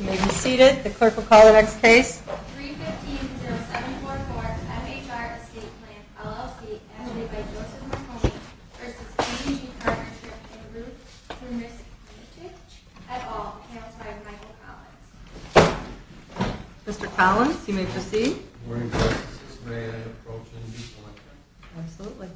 You may be seated. The clerk will call the next case. 315-0744 MHR Estate Plan, LLC, edited by Joseph Marconi, v. K G Partnership, en route to Mercy Community Church, et al. Housed by Michael Collins. Mr. Collins, you may proceed. Morning, Court. This may I approach and be selected? Absolutely.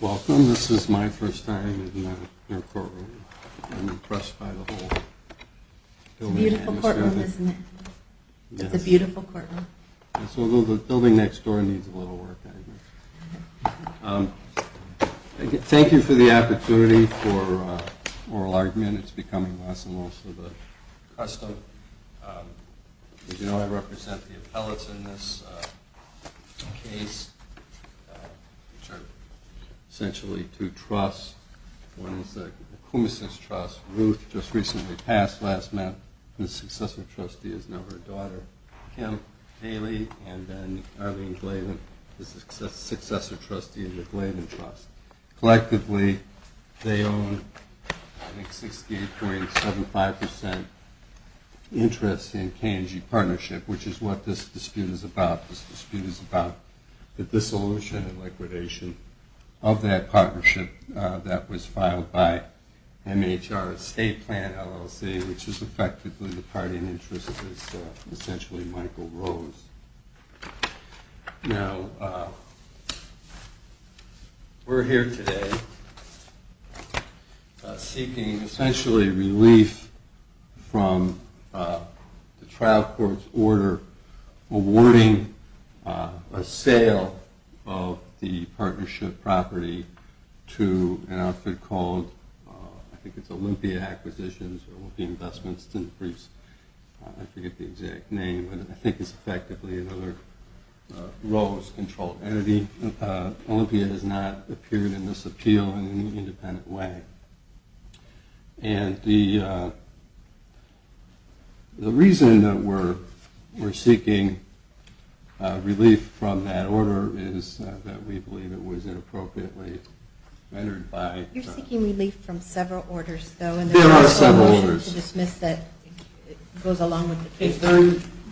Welcome. This is my first time in your courtroom. I'm impressed by the whole building. It's a beautiful courtroom, isn't it? Yes. It's a beautiful courtroom. Yes, although the building next door needs a little work, I admit. Thank you for the opportunity for oral argument. It's becoming less and less of a custom. As you know, I represent the appellates in this case, which are essentially two trusts. One is the Koumissos Trust. Ruth just recently passed last month. The successor trustee is now her daughter, Kim Haley. And then Arlene Glavin is the successor trustee of the Glavin Trust. Collectively, they own 68.75% interest in K&G Partnership, which is what this dispute is about. This dispute is about the dissolution and liquidation of that partnership that was filed by MHR's State Plan, LLC, which is effectively the party in interest is essentially Michael Rose. Now, we're here today seeking essentially relief from the trial court's order awarding a sale of the partnership property to an outfit called, I think it's Olympia Acquisitions or Olympia Investments. I forget the exact name, but I think it's effectively another Rose-controlled entity. Olympia has not appeared in this appeal in any independent way. And the reason that we're seeking relief from that order is that we believe it was inappropriately rendered by... You're seeking relief from several orders, though. There are several orders.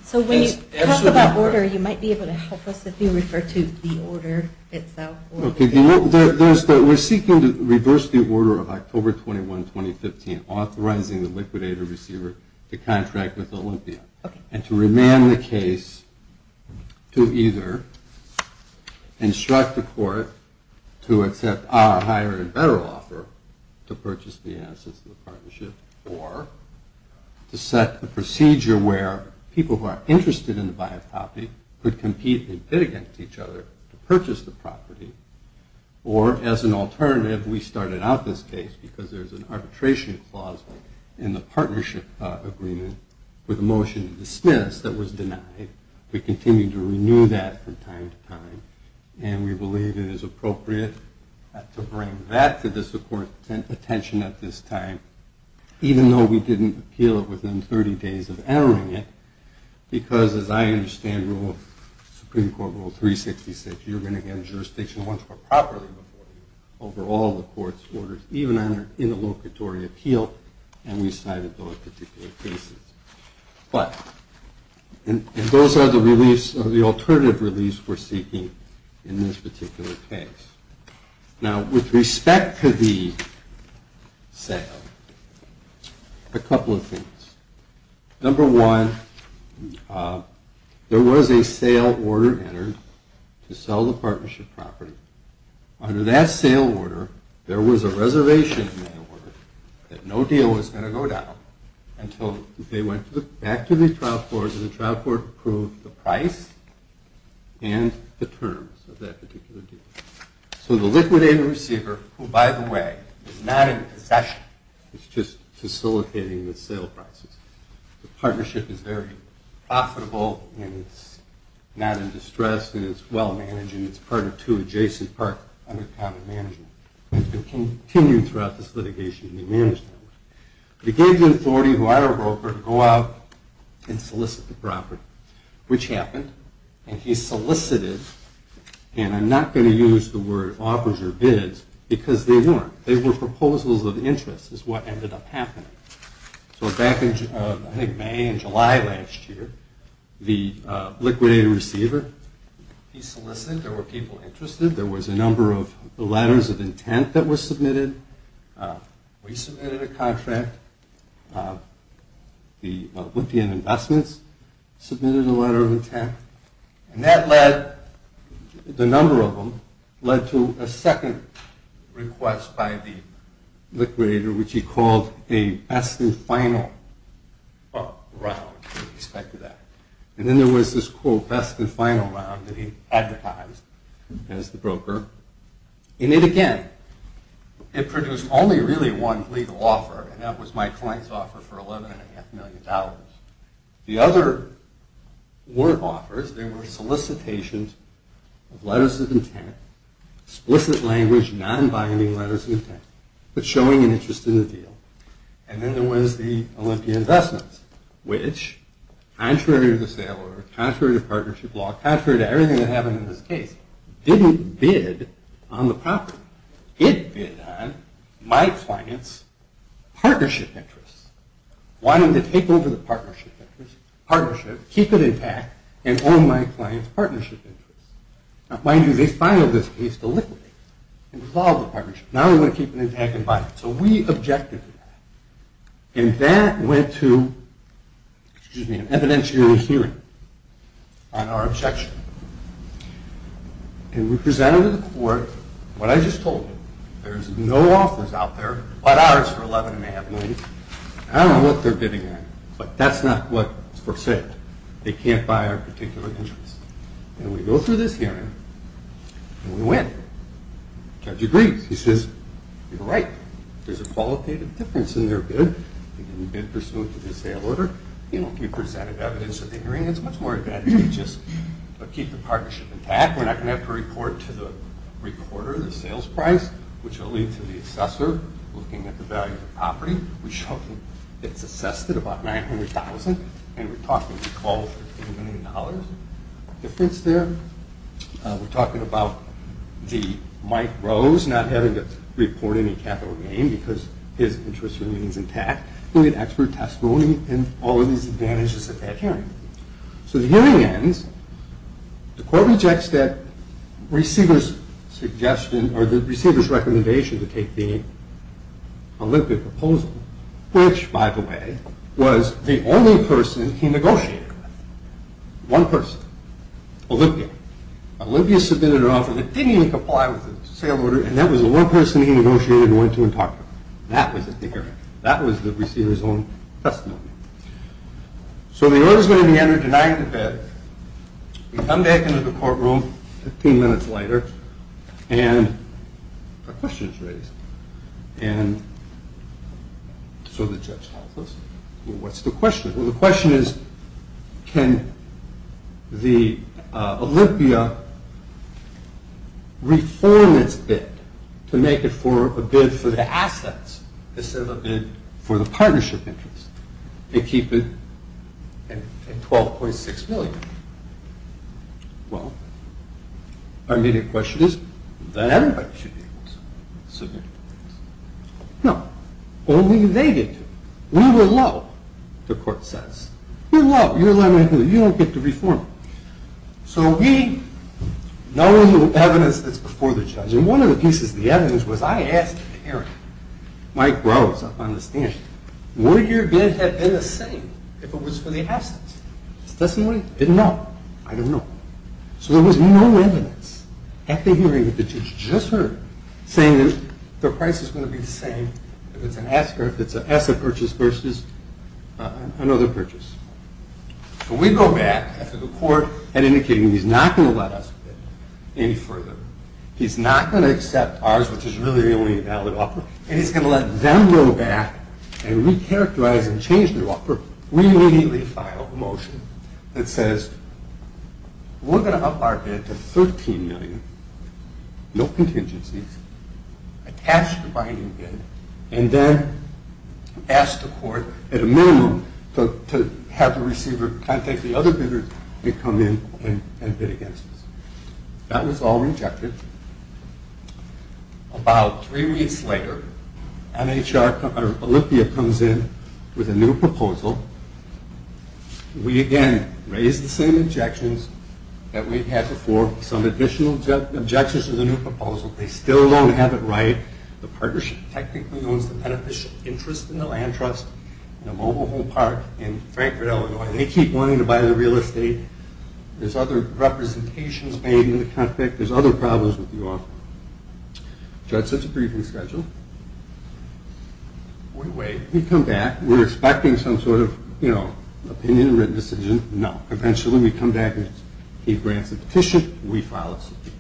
So when you talk about order, you might be able to help us if you refer to the order itself. We're seeking to reverse the order of October 21, 2015, authorizing the liquidator receiver to contract with Olympia and to remand the case to either instruct the court to accept our higher and better offer to purchase the assets of the partnership or to set the procedure where people who are interested in the bioproperty could compete and pit against each other to purchase the property. Or, as an alternative, we started out this case because there's an arbitration clause in the partnership agreement with a motion to dismiss that was denied. We continue to renew that from time to time, and we believe it is appropriate to bring that to the court's attention at this time, even though we didn't appeal it within 30 days of entering it, because, as I understand, Supreme Court Rule 366, you're going to get a jurisdiction once more properly before you over all the court's orders, even in the locatory appeal, and we cited those particular cases. But those are the alternative reliefs we're seeking in this particular case. Now, with respect to the sale, a couple of things. Number one, there was a sale order entered to sell the partnership property. Under that sale order, there was a reservation in that order that no deal was going to go down until they went back to the trial court and the trial court approved the price and the terms of that particular deal. So the liquidator receiver, who, by the way, is not in possession, is just facilitating the sale prices. The partnership is very profitable, and it's not in distress, and it's well-managed, and it's part of two adjacent parts under common management. It continued throughout this litigation, and we managed that. We gave the authority to our broker to go out and solicit the property, which happened, and he solicited, and I'm not going to use the word offers or bids because they weren't. They were proposals of interest is what ended up happening. So back in, I think, May and July last year, the liquidator receiver, he solicited. There were people interested. There was a number of letters of intent that were submitted. We submitted a contract. The Olympian Investments submitted a letter of intent. And that led, the number of them, led to a second request by the liquidator, which he called a best and final round, he expected that. And then there was this, quote, best and final round that he advertised as the broker. And it, again, it produced only really one legal offer, and that was my client's offer for $11.5 million. The other word offers, they were solicitations of letters of intent, explicit language, non-binding letters of intent, but showing an interest in the deal. And then there was the Olympian Investments, which, contrary to the sale order, contrary to partnership law, contrary to everything that happened in this case, didn't bid on the property. It bid on my client's partnership interest, wanting to take over the partnership interest, partnership, keep it intact, and own my client's partnership interest. Now, mind you, they filed this case to liquidate it and dissolve the partnership. Now they want to keep it intact and bind it. So we objected to that. And that went to, excuse me, an evidentiary hearing on our objection. And we presented to the court what I just told you. There's no offers out there but ours for $11.5 million. I don't know what they're bidding on, but that's not what's for sale. They can't buy our particular interest. And we go through this hearing, and we win. Judge agrees. He says, you're right. There's a qualitative difference in their bid. They didn't bid pursuant to the sale order. He presented evidence at the hearing. It's much more advantageous. But keep the partnership intact. We're not going to have to report to the recorder the sales price, which will lead to the assessor looking at the value of the property. It's assessed at about $900,000. And we're talking recall $15 million difference there. We're talking about Mike Rose not having to report any capital gain because his interest remains intact. We'll get expert testimony and all of these advantages at that hearing. So the hearing ends. The court rejects that receiver's suggestion or the receiver's recommendation to take the Olympia proposal, which, by the way, was the only person he negotiated with. One person, Olympia. Olympia submitted an offer that didn't even comply with the sale order, and that was the one person he negotiated and went to and talked to. That was at the hearing. That was the receiver's own testimony. So the order's going to be entered denying the bid. We come back into the courtroom 15 minutes later, and a question is raised. And so the judge tells us, well, what's the question? Well, the question is can the Olympia reform its bid to make it a bid for the assets instead of a bid for the partnership interest and keep it at $12.6 million? Well, our immediate question is that everybody should be able to submit. No, only they get to. We were low, the court says. We're low. You don't get to reform it. So we, knowing the evidence that's before the judge, and one of the pieces of the evidence was I asked Karen, Mike Rose up on the stand, would your bid have been the same if it was for the assets? His testimony, didn't know. I don't know. So there was no evidence at the hearing that the judge just heard saying that the price is going to be the same if it's an asset purchase versus another purchase. So we go back after the court had indicated he's not going to let us bid any further. He's not going to accept ours, which is really the only valid offer, and he's going to let them go back and recharacterize and change their offer. We immediately filed a motion that says we're going to up our bid to $13 million, no contingencies, attach the binding bid, and then ask the court at a minimum to have the receiver contact the other bidders that come in and bid against us. That was all rejected. About three weeks later, NHR Olympia comes in with a new proposal. We again raise the same objections that we had before, some additional objections to the new proposal. They still don't have it right. The partnership technically owns the beneficial interest in the land trust in a mobile home park in Frankfort, Illinois. They keep wanting to buy the real estate. There's other representations made in the contract. There's other problems with the offer. The judge sets a briefing schedule. We wait. We come back. We're expecting some sort of, you know, opinion, written decision. No. Eventually we come back and he grants a petition. We file this appeal.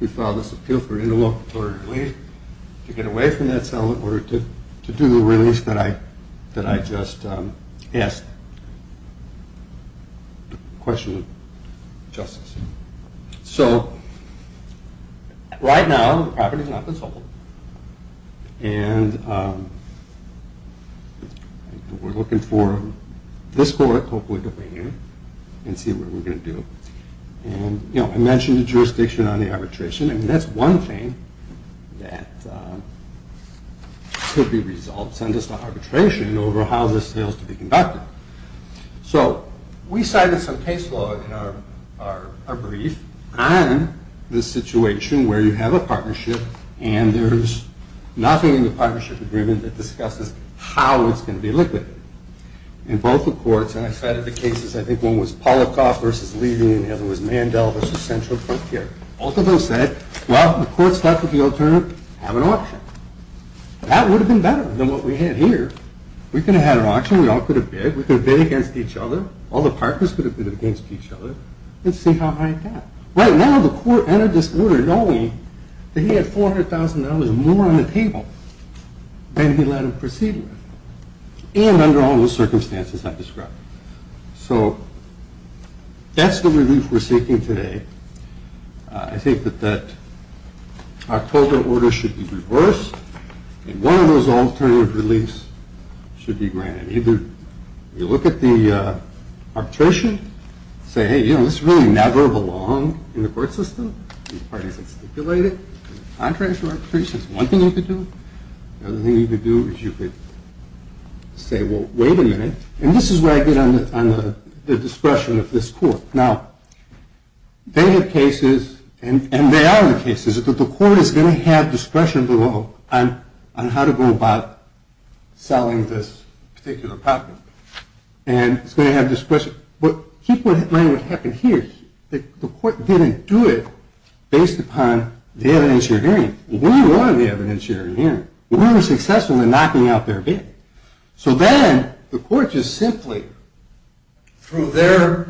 We file this appeal for interlocutor delay to get away from that sell in order to do the release that I just asked. The question of justice. So right now the property is not controlled. And we're looking for this court, hopefully, to bring in and see what we're going to do. And, you know, I mentioned the jurisdiction on the arbitration. I mean, that's one thing that could be resolved. It sends us to arbitration over how this fails to be conducted. So we cited some case law in our brief on this situation where you have a partnership and there's nothing in the partnership agreement that discusses how it's going to be liquid. In both the courts, and I cited the cases, I think one was Polikoff versus Levy, and the other was Mandel versus Central Procure. Both of those said, well, the court's left with the alternative, have an auction. That would have been better than what we had here. We could have had an auction. We all could have bid. We could have bid against each other. All the partners could have bid against each other and see how high it got. Right now the court entered this order knowing that he had $400,000 more on the table than he let him proceed with, and under all those circumstances I described. So that's the relief we're seeking today. I think that that October order should be reversed, and one of those alternative reliefs should be granted. Either you look at the arbitration, say, hey, you know, this really never belonged in the court system. These parties have stipulated it. There's a contractual arbitration. That's one thing you could do. The other thing you could do is you could say, well, wait a minute. And this is where I get on the discretion of this court. Now, they have cases, and they are the cases, that the court is going to have discretion below on how to go about selling this particular property. And it's going to have discretion. But keep in mind what happened here. The court didn't do it based upon the evidence you're hearing. We won the evidence you're hearing. We were successful in knocking out their bid. So then the court just simply, through their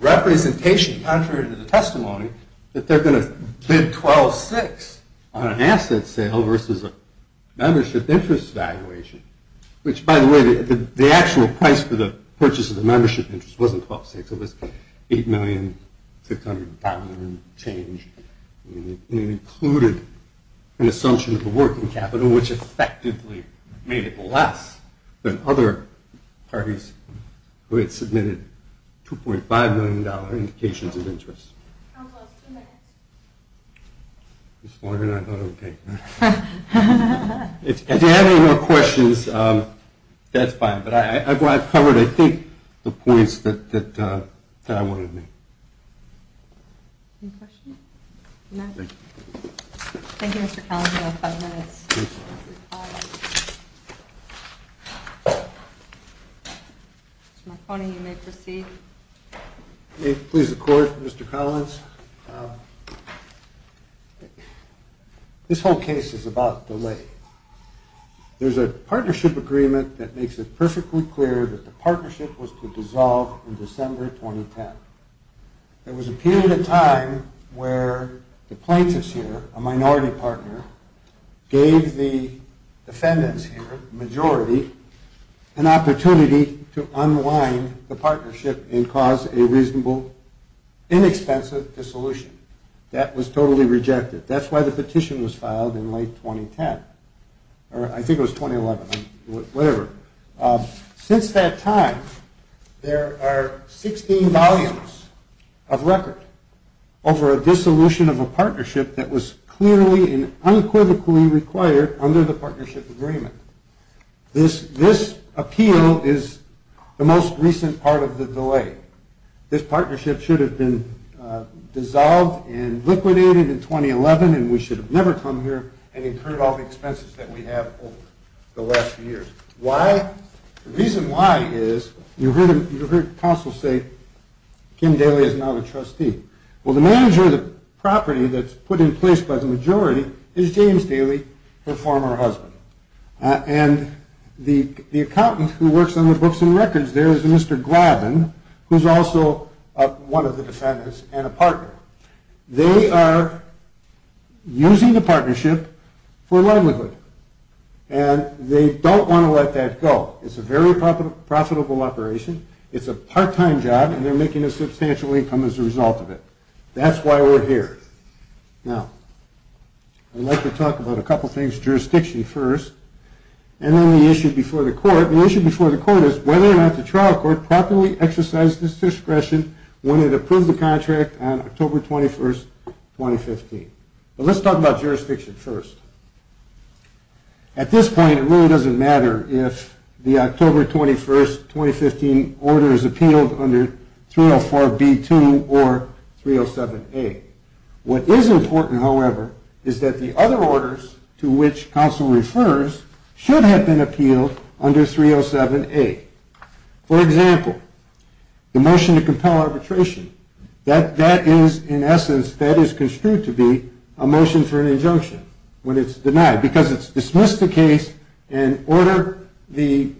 representation, contrary to the testimony, that they're going to bid $12,600 on an asset sale versus a membership interest valuation, which, by the way, the actual price for the purchase of the membership interest wasn't $12,600. It was $8,600,000 change. And it included an assumption of the working capital, which effectively made it less than other parties who had submitted $2.5 million indications of interest. Almost two minutes. It's longer than I thought it would be. If you have any more questions, that's fine. But I've covered, I think, the points that I wanted to make. Any questions? No? Thank you. Thank you, Mr. Collins. You have five minutes. Mr. Marconi, you may proceed. May it please the Court, Mr. Collins? This whole case is about delay. There's a partnership agreement that makes it perfectly clear that the partnership was to dissolve in December 2010. There was a period of time where the plaintiffs here, a minority partner, gave the defendants here, the majority, an opportunity to unwind the partnership and cause a reasonable, inexpensive dissolution. That was totally rejected. That's why the petition was filed in late 2010, or I think it was 2011, whatever. Since that time, there are 16 volumes of record over a dissolution of a partnership that was clearly and unquivocally required under the partnership agreement. This appeal is the most recent part of the delay. This partnership should have been dissolved and liquidated in 2011, and we should have never come here and incurred all the expenses that we have over the last few years. Why? The reason why is, you heard counsel say, Kim Daly is not a trustee. Well, the manager of the property that's put in place by the majority is James Daly, her former husband. And the accountant who works on the books and records there is Mr. Glavin, who's also one of the defendants and a partner. They are using the partnership for livelihood, and they don't want to let that go. It's a very profitable operation. It's a part-time job, and they're making a substantial income as a result of it. That's why we're here. Now, I'd like to talk about a couple things. Jurisdiction first, and then the issue before the court. The issue before the court is whether or not the trial court properly exercised its discretion when it approved the contract on October 21, 2015. But let's talk about jurisdiction first. At this point, it really doesn't matter if the October 21, 2015 order is appealed under 304B2 or 307A. What is important, however, is that the other orders to which counsel refers should have been appealed under 307A. For example, the motion to compel arbitration, that is in essence, that is construed to be a motion for an injunction. When it's denied, because it's dismissed the case and ordered the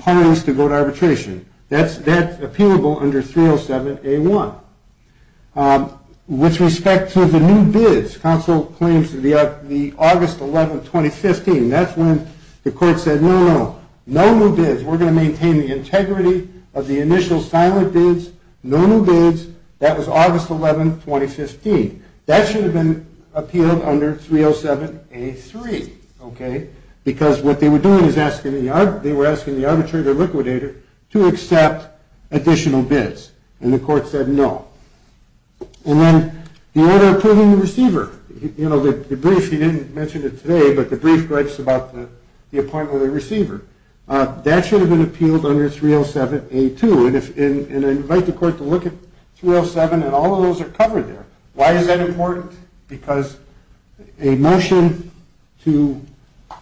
parties to go to arbitration. That's appealable under 307A1. With respect to the new bids, counsel claims that the August 11, 2015, that's when the court said, no, no, no new bids. We're going to maintain the integrity of the initial silent bids. No new bids. That was August 11, 2015. That should have been appealed under 307A3. Okay? Because what they were doing is they were asking the arbitrator liquidator to accept additional bids. And the court said no. And then the order approving the receiver. You know, the brief, he didn't mention it today, but the brief writes about the appointment of the receiver. That should have been appealed under 307A2. And I invite the court to look at 307 and all of those are covered there. Why is that important? Because a motion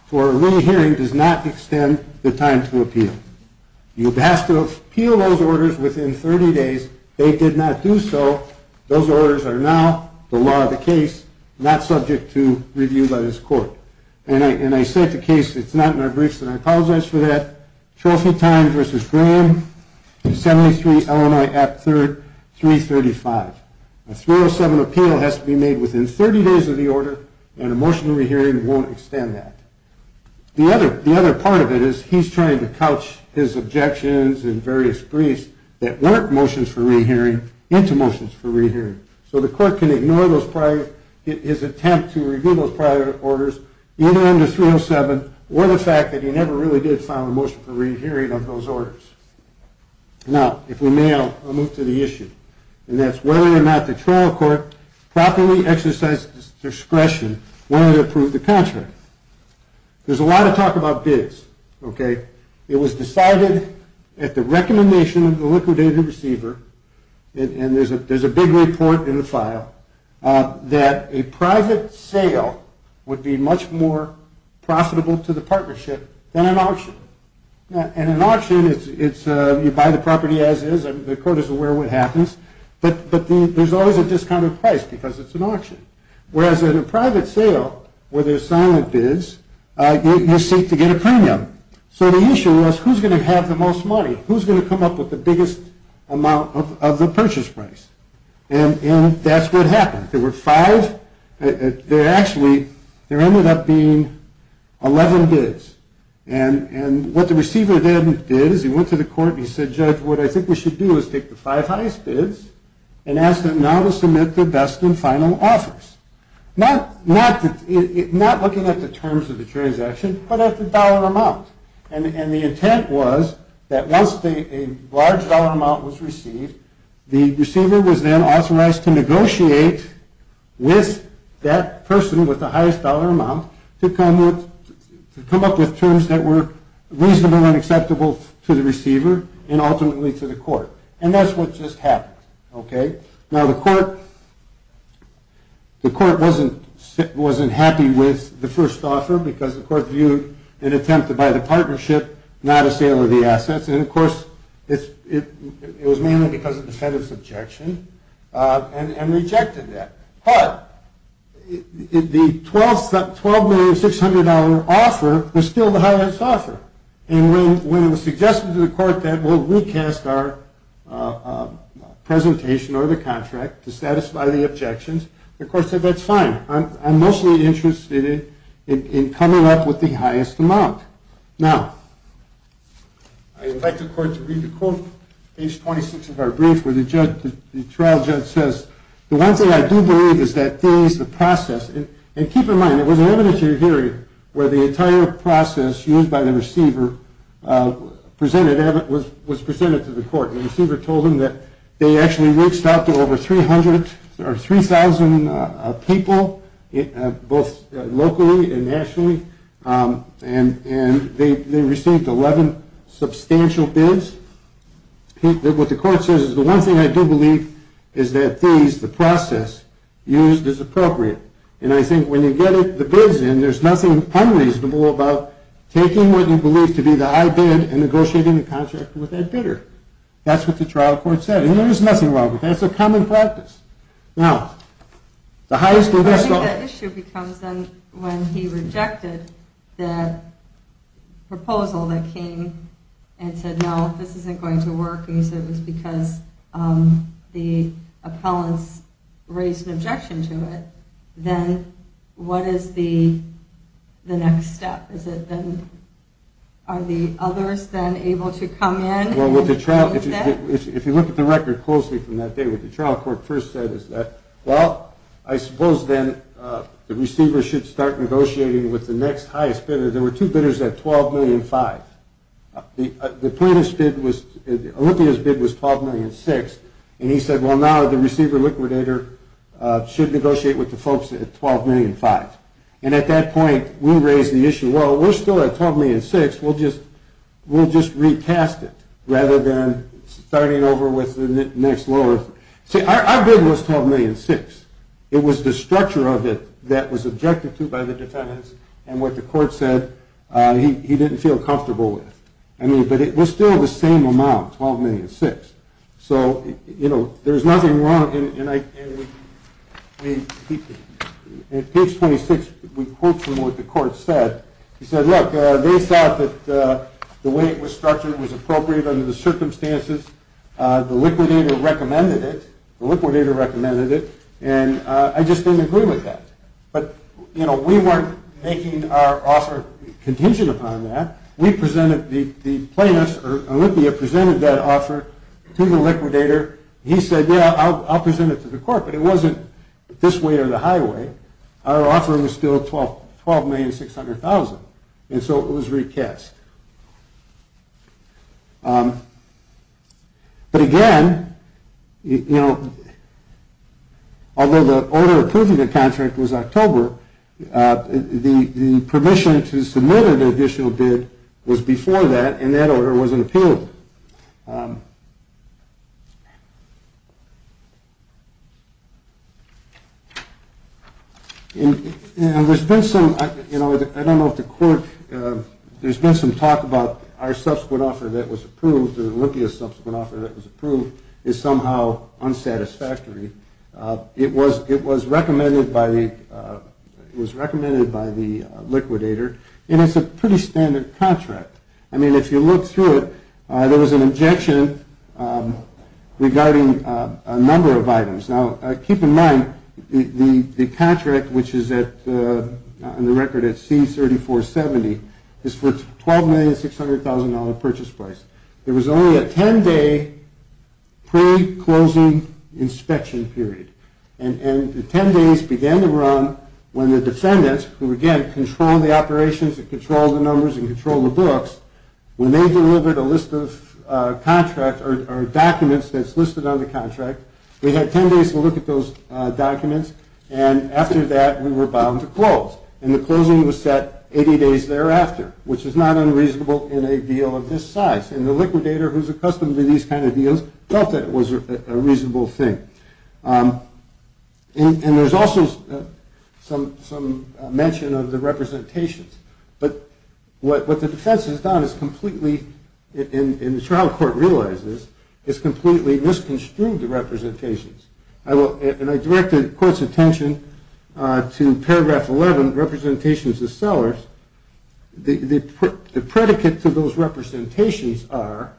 for a re-hearing does not extend the time to appeal. You have to appeal those orders within 30 days. They did not do so. Those orders are now the law of the case, not subject to review by this court. And I said the case, it's not in our briefs, and I apologize for that. Trophy time versus Graham in 73 LMI Act III, 335. A 307 appeal has to be made within 30 days of the order, and a motion to re-hearing won't extend that. The other part of it is he's trying to couch his objections and various briefs that weren't motions for re-hearing into motions for re-hearing. So the court can ignore his attempt to review those prior orders, either under 307, or the fact that he never really did file a motion for re-hearing of those orders. Now, if we may, I'll move to the issue. And that's whether or not the trial court properly exercised discretion when it approved the contract. There's a lot of talk about bids. It was decided at the recommendation of the liquidated receiver, and there's a big report in the file, that a private sale would be much more profitable to the partnership than an auction. And an auction, you buy the property as is, the court is aware of what happens, but there's always a discounted price because it's an auction. Whereas in a private sale, where there's silent bids, you seek to get a premium. So the issue was, who's going to have the most money? Who's going to come up with the biggest amount of the purchase price? And that's what happened. There were five. Actually, there ended up being 11 bids. And what the receiver then did is he went to the court and he said, Judge, what I think we should do is take the five highest bids and ask them now to submit their best and final offers. Not looking at the terms of the transaction, but at the dollar amount. And the intent was that once a large dollar amount was received, the receiver was then authorized to negotiate with that person with the highest dollar amount to come up with terms that were reasonable and acceptable to the receiver and ultimately to the court. And that's what just happened. Now, the court wasn't happy with the first offer, because the court viewed an attempt to buy the partnership, not a sale of the assets. And of course, it was mainly because of the Fed's objection and rejected that. But the $12,600,000 offer was still the highest offer. And when it was suggested to the court that we'll recast our presentation or the contract to satisfy the objections, the court said that's fine. I'm mostly interested in coming up with the highest amount. Now, I'd like the court to read the quote, page 26 of our brief, where the trial judge says, The one thing I do believe is that these, the process, and keep in mind, it was an evidentiary hearing where the entire process used by the receiver was presented to the court. The receiver told them that they actually reached out to over 3,000 people, both locally and nationally, and they received 11 substantial bids. What the court says is the one thing I do believe is that these, the process, used is appropriate. And I think when you get the bids in, there's nothing unreasonable about taking what you believe to be the high bid and negotiating the contract with that bidder. That's what the trial court said. And there was nothing wrong with that. It's a common practice. Now, the highest bidder still... If this isn't going to work and you said it was because the appellants raised an objection to it, then what is the next step? Is it then, are the others then able to come in? Well, if you look at the record closely from that day, what the trial court first said is that, Well, I suppose then the receiver should start negotiating with the next highest bidder. The plaintiff's bid was, Olympia's bid was $12,006,000. And he said, Well, now the receiver liquidator should negotiate with the folks at $12,005,000. And at that point, we raised the issue, Well, we're still at $12,006,000. We'll just retest it rather than starting over with the next lower bidder. See, our bid was $12,006,000. It was the structure of it that was objected to by the defendants. And what the court said, he didn't feel comfortable with. I mean, but it was still the same amount, $12,006,000. So, you know, there's nothing wrong in... At page 26, we quote from what the court said. He said, Look, they thought that the way it was structured was appropriate under the circumstances. The liquidator recommended it. The liquidator recommended it. And I just didn't agree with that. But, you know, we weren't making our offer contingent upon that. We presented the plaintiffs, or Olympia presented that offer to the liquidator. He said, Yeah, I'll present it to the court. But it wasn't this way or the highway. Our offer was still $12,006,000. And so it was recast. But, again, you know, although the order approving the contract was October, the permission to submit an additional bid was before that, and that order wasn't appealed. And there's been some, you know, I don't know if the court... There's been some talk about our subsequent offer that was approved, Olympia's subsequent offer that was approved, is somehow unsatisfactory. It was recommended by the liquidator, and it's a pretty standard contract. I mean, if you look through it, there was an objection regarding a number of items. Now, keep in mind, the contract, which is in the record at C-3470, is for $12,600,000 purchase price. There was only a 10-day pre-closing inspection period. And the 10 days began to run when the defendants, who, again, control the operations and control the numbers and control the books, when they delivered a list of contracts or documents that's listed on the contract, we had 10 days to look at those documents, and after that, we were bound to close. And the closing was set 80 days thereafter, which is not unreasonable in a deal of this size. And the liquidator, who's accustomed to these kind of deals, felt that it was a reasonable thing. And there's also some mention of the representations. But what the defense has done is completely, and the trial court realizes, is completely misconstrued the representations. And I directed the court's attention to paragraph 11, representations of sellers. The predicate to those representations are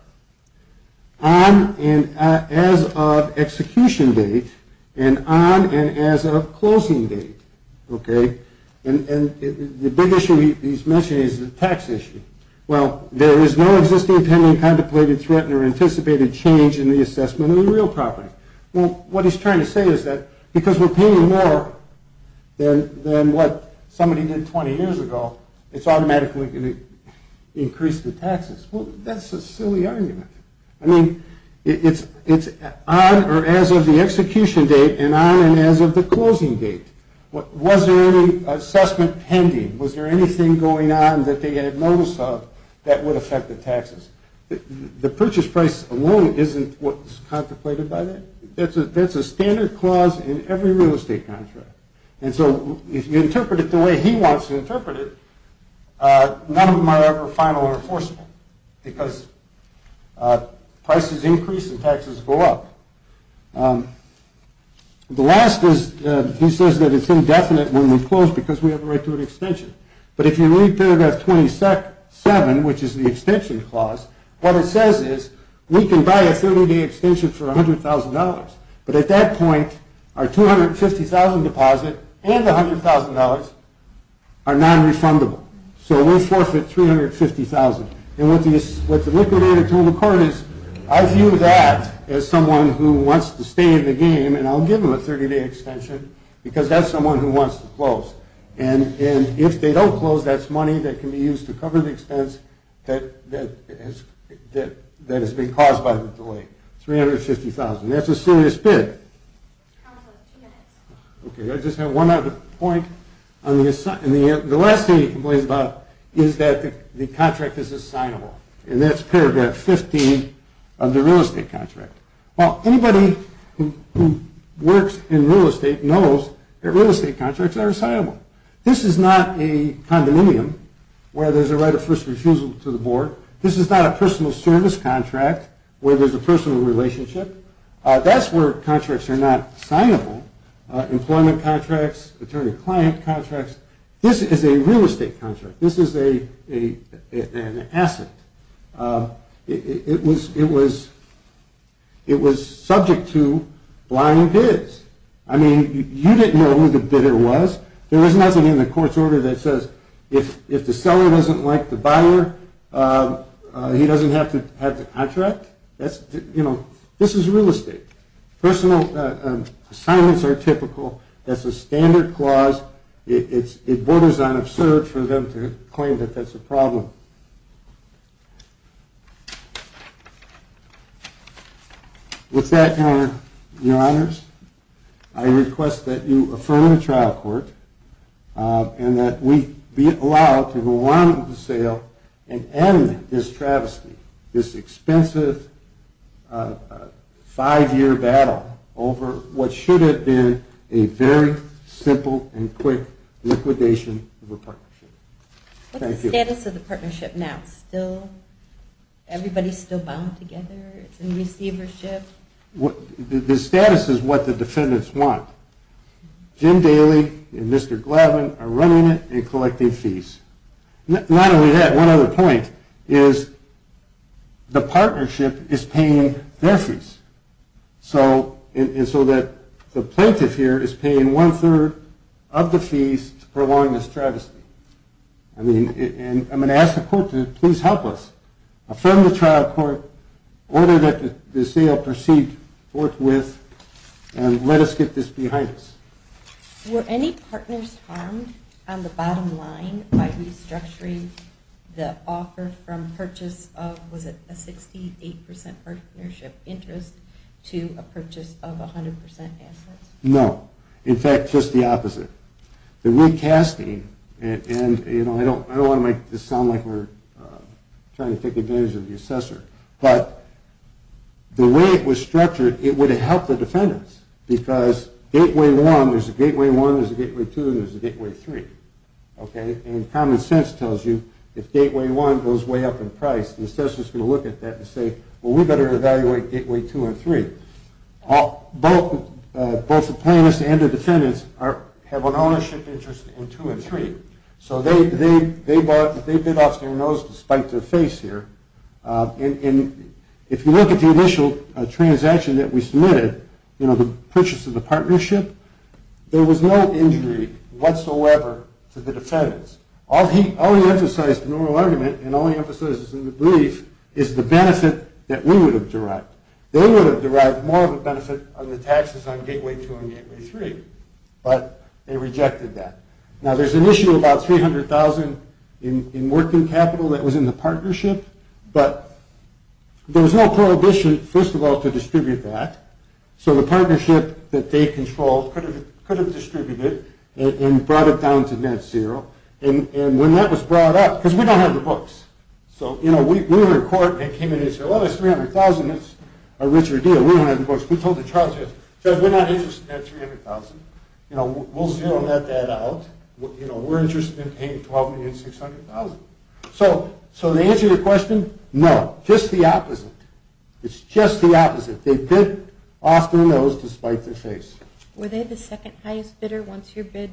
on and as of execution date, and on and as of closing date. Okay? And the big issue he's mentioning is the tax issue. Well, there is no existing pending contemplated, threatened, or anticipated change in the assessment of the real property. Well, what he's trying to say is that because we're paying more than what somebody did 20 years ago, it's automatically going to increase the taxes. Well, that's a silly argument. I mean, it's on or as of the execution date and on and as of the closing date. Was there any assessment pending? Was there anything going on that they had notice of that would affect the taxes? The purchase price alone isn't what's contemplated by that. That's a standard clause in every real estate contract. And so if you interpret it the way he wants to interpret it, none of them are ever final or enforceable because prices increase and taxes go up. The last is he says that it's indefinite when we close because we have a right to an extension. But if you read paragraph 27, which is the extension clause, what it says is we can buy a 30-day extension for $100,000. But at that point, our $250,000 deposit and the $100,000 are nonrefundable. So we'll forfeit $350,000. And what the liquidator told the court is, I view that as someone who wants to stay in the game and I'll give them a 30-day extension because that's someone who wants to close. And if they don't close, that's money that can be used to cover the expense that has been caused by the delay. $350,000. That's a serious bid. Okay, I just have one other point. The last thing he complains about is that the contract is assignable. And that's paragraph 15 of the real estate contract. Well, anybody who works in real estate knows that real estate contracts are assignable. This is not a condominium where there's a right of first refusal to the board. This is not a personal service contract where there's a personal relationship. That's where contracts are not assignable. Employment contracts, attorney-client contracts. This is a real estate contract. This is an asset. It was subject to blind bids. I mean, you didn't know who the bidder was. There was nothing in the court's order that says if the seller doesn't like the buyer, he doesn't have to contract. This is real estate. Personal assignments are typical. That's a standard clause. It borders on absurd for them to claim that that's a problem. With that, Your Honors, I request that you affirm the trial court and that we be allowed to go on with the sale and end this travesty, this expensive five-year battle over what should have been a very simple and quick liquidation of a partnership. Thank you. What's the status of the partnership now? Everybody's still bound together? It's in receivership? The status is what the defendants want. Jim Daley and Mr. Gladwin are running it and collecting fees. Not only that, one other point is the partnership is paying their fees, and so the plaintiff here is paying one-third of the fees to prolong this travesty. I'm going to ask the court to please help us. Affirm the trial court, order that the sale proceed forthwith, and let us get this behind us. Were any partners harmed on the bottom line by restructuring the offer from purchase of a 68% partnership interest to a purchase of 100% assets? No. In fact, just the opposite. The recasting, and I don't want to make this sound like we're trying to take advantage of the assessor, but the way it was structured, it would have helped the defendants, because Gateway 1, there's a Gateway 1, there's a Gateway 2, there's a Gateway 3. And common sense tells you if Gateway 1 goes way up in price, the assessor's going to look at that and say, well, we better evaluate Gateway 2 and 3. Both the plaintiffs and the defendants have an ownership interest in 2 and 3, so they bit off their nose to spite their face here. And if you look at the initial transaction that we submitted, you know, the purchase of the partnership, there was no injury whatsoever to the defendants. All he emphasized in the oral argument and all he emphasizes in the brief is the benefit that we would have derived. They would have derived more of a benefit on the taxes on Gateway 2 and Gateway 3, but they rejected that. Now, there's an issue about $300,000 in working capital that was in the partnership, but there was no prohibition, first of all, to distribute that. So the partnership that they controlled could have distributed it and brought it down to net zero. And when that was brought up, because we don't have the books. So, you know, we were in court and they came in and said, well, that's $300,000, that's a richer deal. We don't have the books. We told the charges, we're not interested in that $300,000. You know, we'll zero that out. You know, we're interested in paying $12,600,000. So the answer to your question, no, just the opposite. It's just the opposite. They bid off their nose to spite their face. Were they the second highest bidder once your bid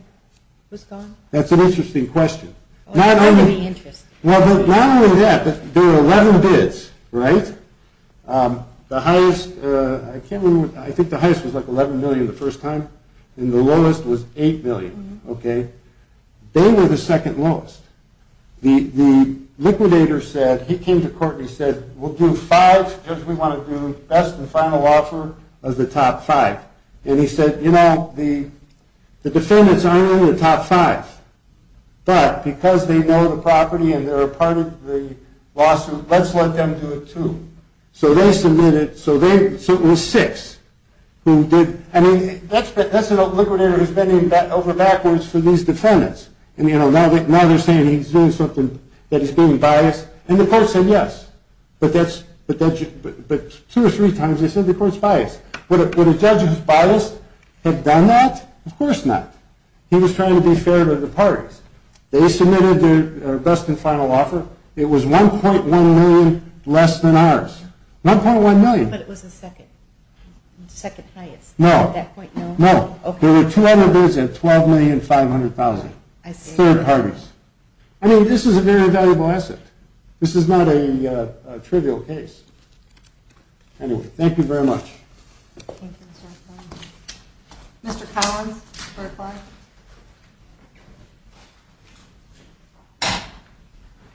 was gone? That's an interesting question. Not only that, there were 11 bids, right? The highest, I can't remember, I think the highest was like $11 million the first time, and the lowest was $8 million, okay? They were the second lowest. The liquidator said, he came to court and he said, we'll do five, because we want to do best and final offer of the top five. And he said, you know, the defendants aren't in the top five, but because they know the property and they're a part of the lawsuit, let's let them do it too. So they submitted, so it was six who did, I mean, that's a liquidator who's bending over backwards for these defendants. And, you know, now they're saying he's doing something, that he's being biased. And the court said yes, but two or three times they said the court's biased. Would a judge who's biased have done that? Of course not. He was trying to be fair to the parties. They submitted their best and final offer. It was $1.1 million less than ours. $1.1 million. But it was the second highest. No. No. There were $200,000 and $12,500,000, third parties. I mean, this is a very valuable asset. This is not a trivial case. Anyway, thank you very much. Thank you, Mr. O'Connor. Mr. Collins for reply.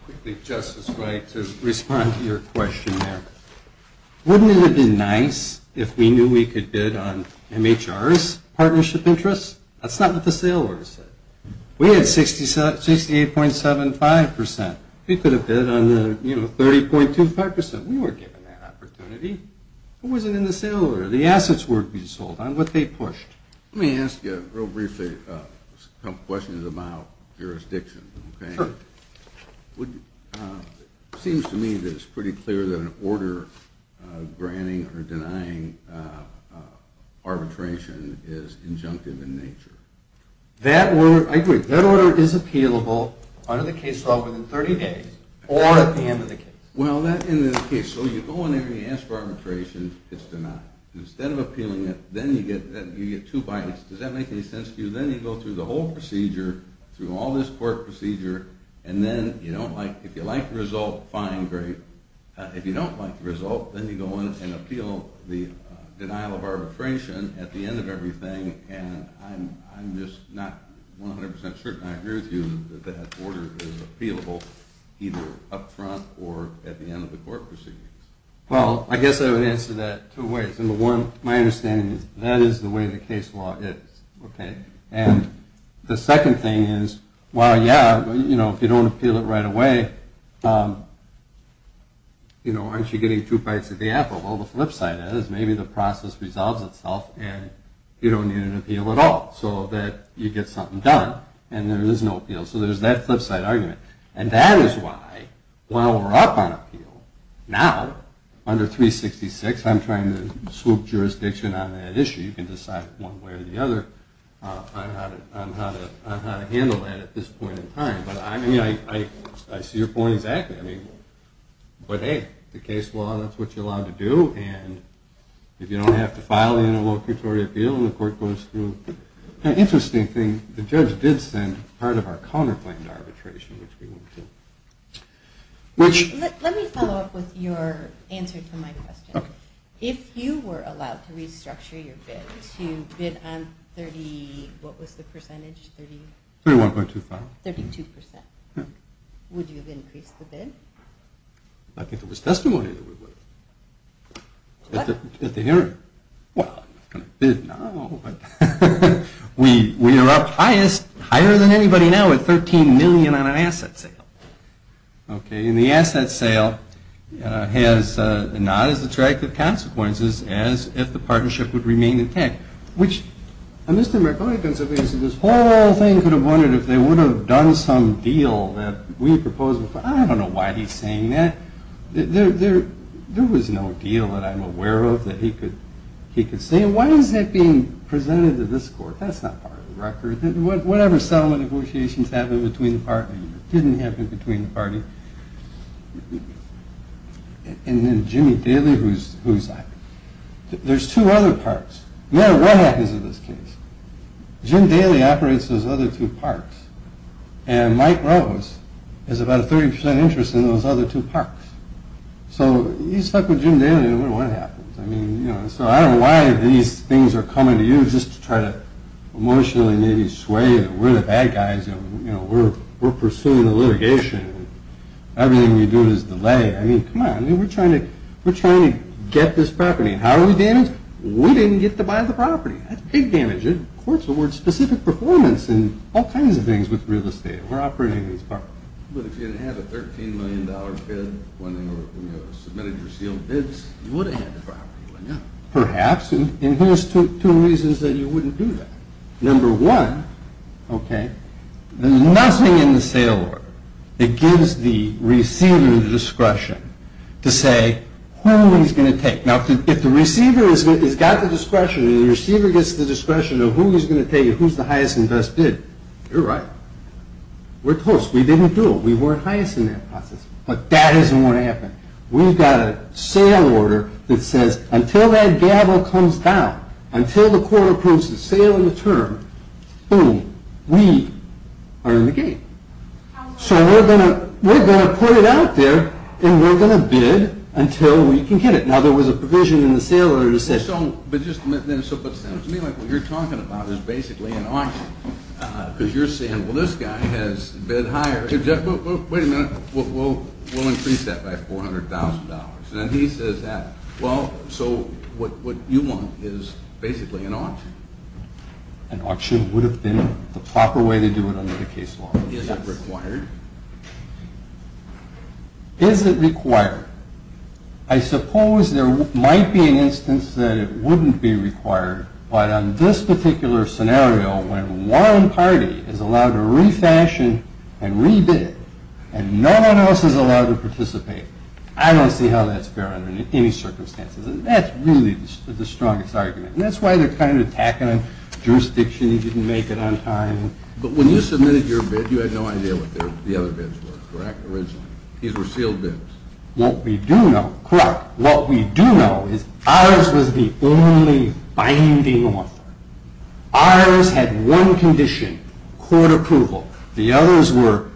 Quickly, Justice Wright, to respond to your question there. Wouldn't it have been nice if we knew we could bid on MHR's partnership interest? That's not what the sale order said. We had 68.75%. We could have bid on the, you know, 30.25%. We weren't given that opportunity. It wasn't in the sale order. The assets were to be sold on what they pushed. Let me ask you real briefly a couple of questions about jurisdiction. Sure. It seems to me that it's pretty clear that an order granting or denying arbitration is injunctive in nature. I agree. That order is appealable under the case law within 30 days or at the end of the case. Well, at the end of the case. So you go in there and you ask for arbitration. It's denied. Instead of appealing it, then you get two bites. Does that make any sense to you? Then you go through the whole procedure, through all this court procedure, and then if you like the result, fine, great. If you don't like the result, then you go in and appeal the denial of arbitration at the end of everything, and I'm just not 100% certain I agree with you that that order is appealable either up front or at the end of the court proceedings. Well, I guess I would answer that two ways. Number one, my understanding is that is the way the case law is, okay? And the second thing is, well, yeah, you know, if you don't appeal it right away, you know, aren't you getting two bites of the apple? Well, the flip side of it is maybe the process resolves itself and you don't need an appeal at all so that you get something done and there is no appeal. So there's that flip side argument. And that is why while we're up on appeal, now, under 366, I'm trying to swoop jurisdiction on that issue. You can decide one way or the other on how to handle that at this point in time. But, I mean, I see your point exactly. I mean, but, hey, the case law, that's what you're allowed to do, and if you don't have to file the interlocutory appeal and the court goes through. Now, interesting thing, the judge did send part of our counterplanned arbitration, which we went through. Let me follow up with your answer to my question. If you were allowed to restructure your bid to bid on 30, what was the percentage? 31.25. 32%. Would you have increased the bid? I think there was testimony that we would have. What? At the hearing. Well, I'm not going to bid now, but we are up higher than anybody now at $13 million on an asset sale. Okay, and the asset sale has not as attractive consequences as if the partnership would remain intact. Which, Mr. Marconi could have wondered if they would have done some deal that we proposed before. I don't know why he's saying that. There was no deal that I'm aware of that he could say. Why is that being presented to this court? That's not part of the record. Whatever settlement negotiations happened between the parties, didn't happen between the parties. And then Jimmy Daly, who's, there's two other parts. No matter what happens in this case, Jim Daly operates those other two parts. And Mike Rose has about a 30% interest in those other two parts. So you stuck with Jim Daly and wonder what happens. I mean, you know, so I don't know why these things are coming to you just to try to emotionally maybe sway that we're the bad guys. You know, we're pursuing the litigation. Everything we do is delay. I mean, come on, we're trying to get this property. How do we damage it? We didn't get to buy the property. That's big damage. And courts award specific performance in all kinds of things with real estate. We're operating these properties. But if you had a $13 million bid when you submitted your sealed bids, you would have had the property, wouldn't you? Perhaps. And here's two reasons that you wouldn't do that. Number one, okay, there's nothing in the sale order that gives the receiver the discretion to say who he's going to take. Now, if the receiver has got the discretion and the receiver gets the discretion of who he's going to take and who's the highest and best bid, you're right. We're toast. We didn't do it. We weren't highest in that process. But that isn't what happened. We've got a sale order that says until that gavel comes down, until the court approves the sale and the term, boom, we are in the gate. So we're going to put it out there and we're going to bid until we can get it. Now, there was a provision in the sale order that said... But just a minute. What you're talking about is basically an auction because you're saying, well, this guy has bid higher. Wait a minute. We'll increase that by $400,000. And he says that. Well, so what you want is basically an auction. An auction would have been the proper way to do it under the case law. Is it required? Is it required? I suppose there might be an instance that it wouldn't be required, but on this particular scenario, when one party is allowed to refashion and re-bid and no one else is allowed to participate, I don't see how that's fair under any circumstances. And that's really the strongest argument. And that's why they're kind of attacking on jurisdiction. You didn't make it on time. But when you submitted your bid, you had no idea what the other bids were, correct, originally? These were sealed bids. What we do know, correct, what we do know is ours was the only binding offer. Ours had one condition, court approval. The others were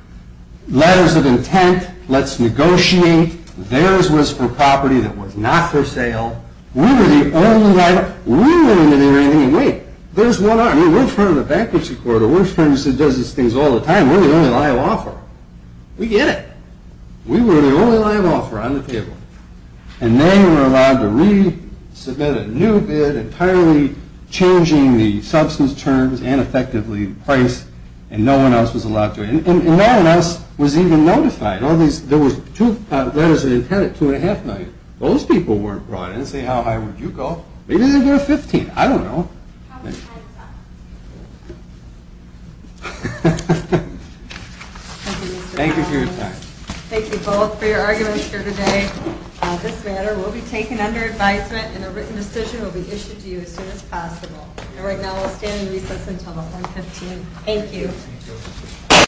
letters of intent, let's negotiate. Theirs was for property that was not for sale. We were the only liable. We didn't want to do anything. And wait, there's one arm. We're in front of the bankruptcy court. We're in front of the business that does these things all the time. We're the only liable offer. We get it. We were the only liable offer on the table. And they were allowed to resubmit a new bid, entirely changing the substance terms and effectively the price, and no one else was allowed to. And no one else was even notified. There was two letters of intent at $2.5 million. Those people weren't brought in to say, how high would you go? Maybe they'd get a 15. I don't know. Thank you for your time. Thank you both for your arguments here today. This matter will be taken under advisement, and a written decision will be issued to you as soon as possible. And right now we'll stand in recess until the 115th. Thank you. Thank you.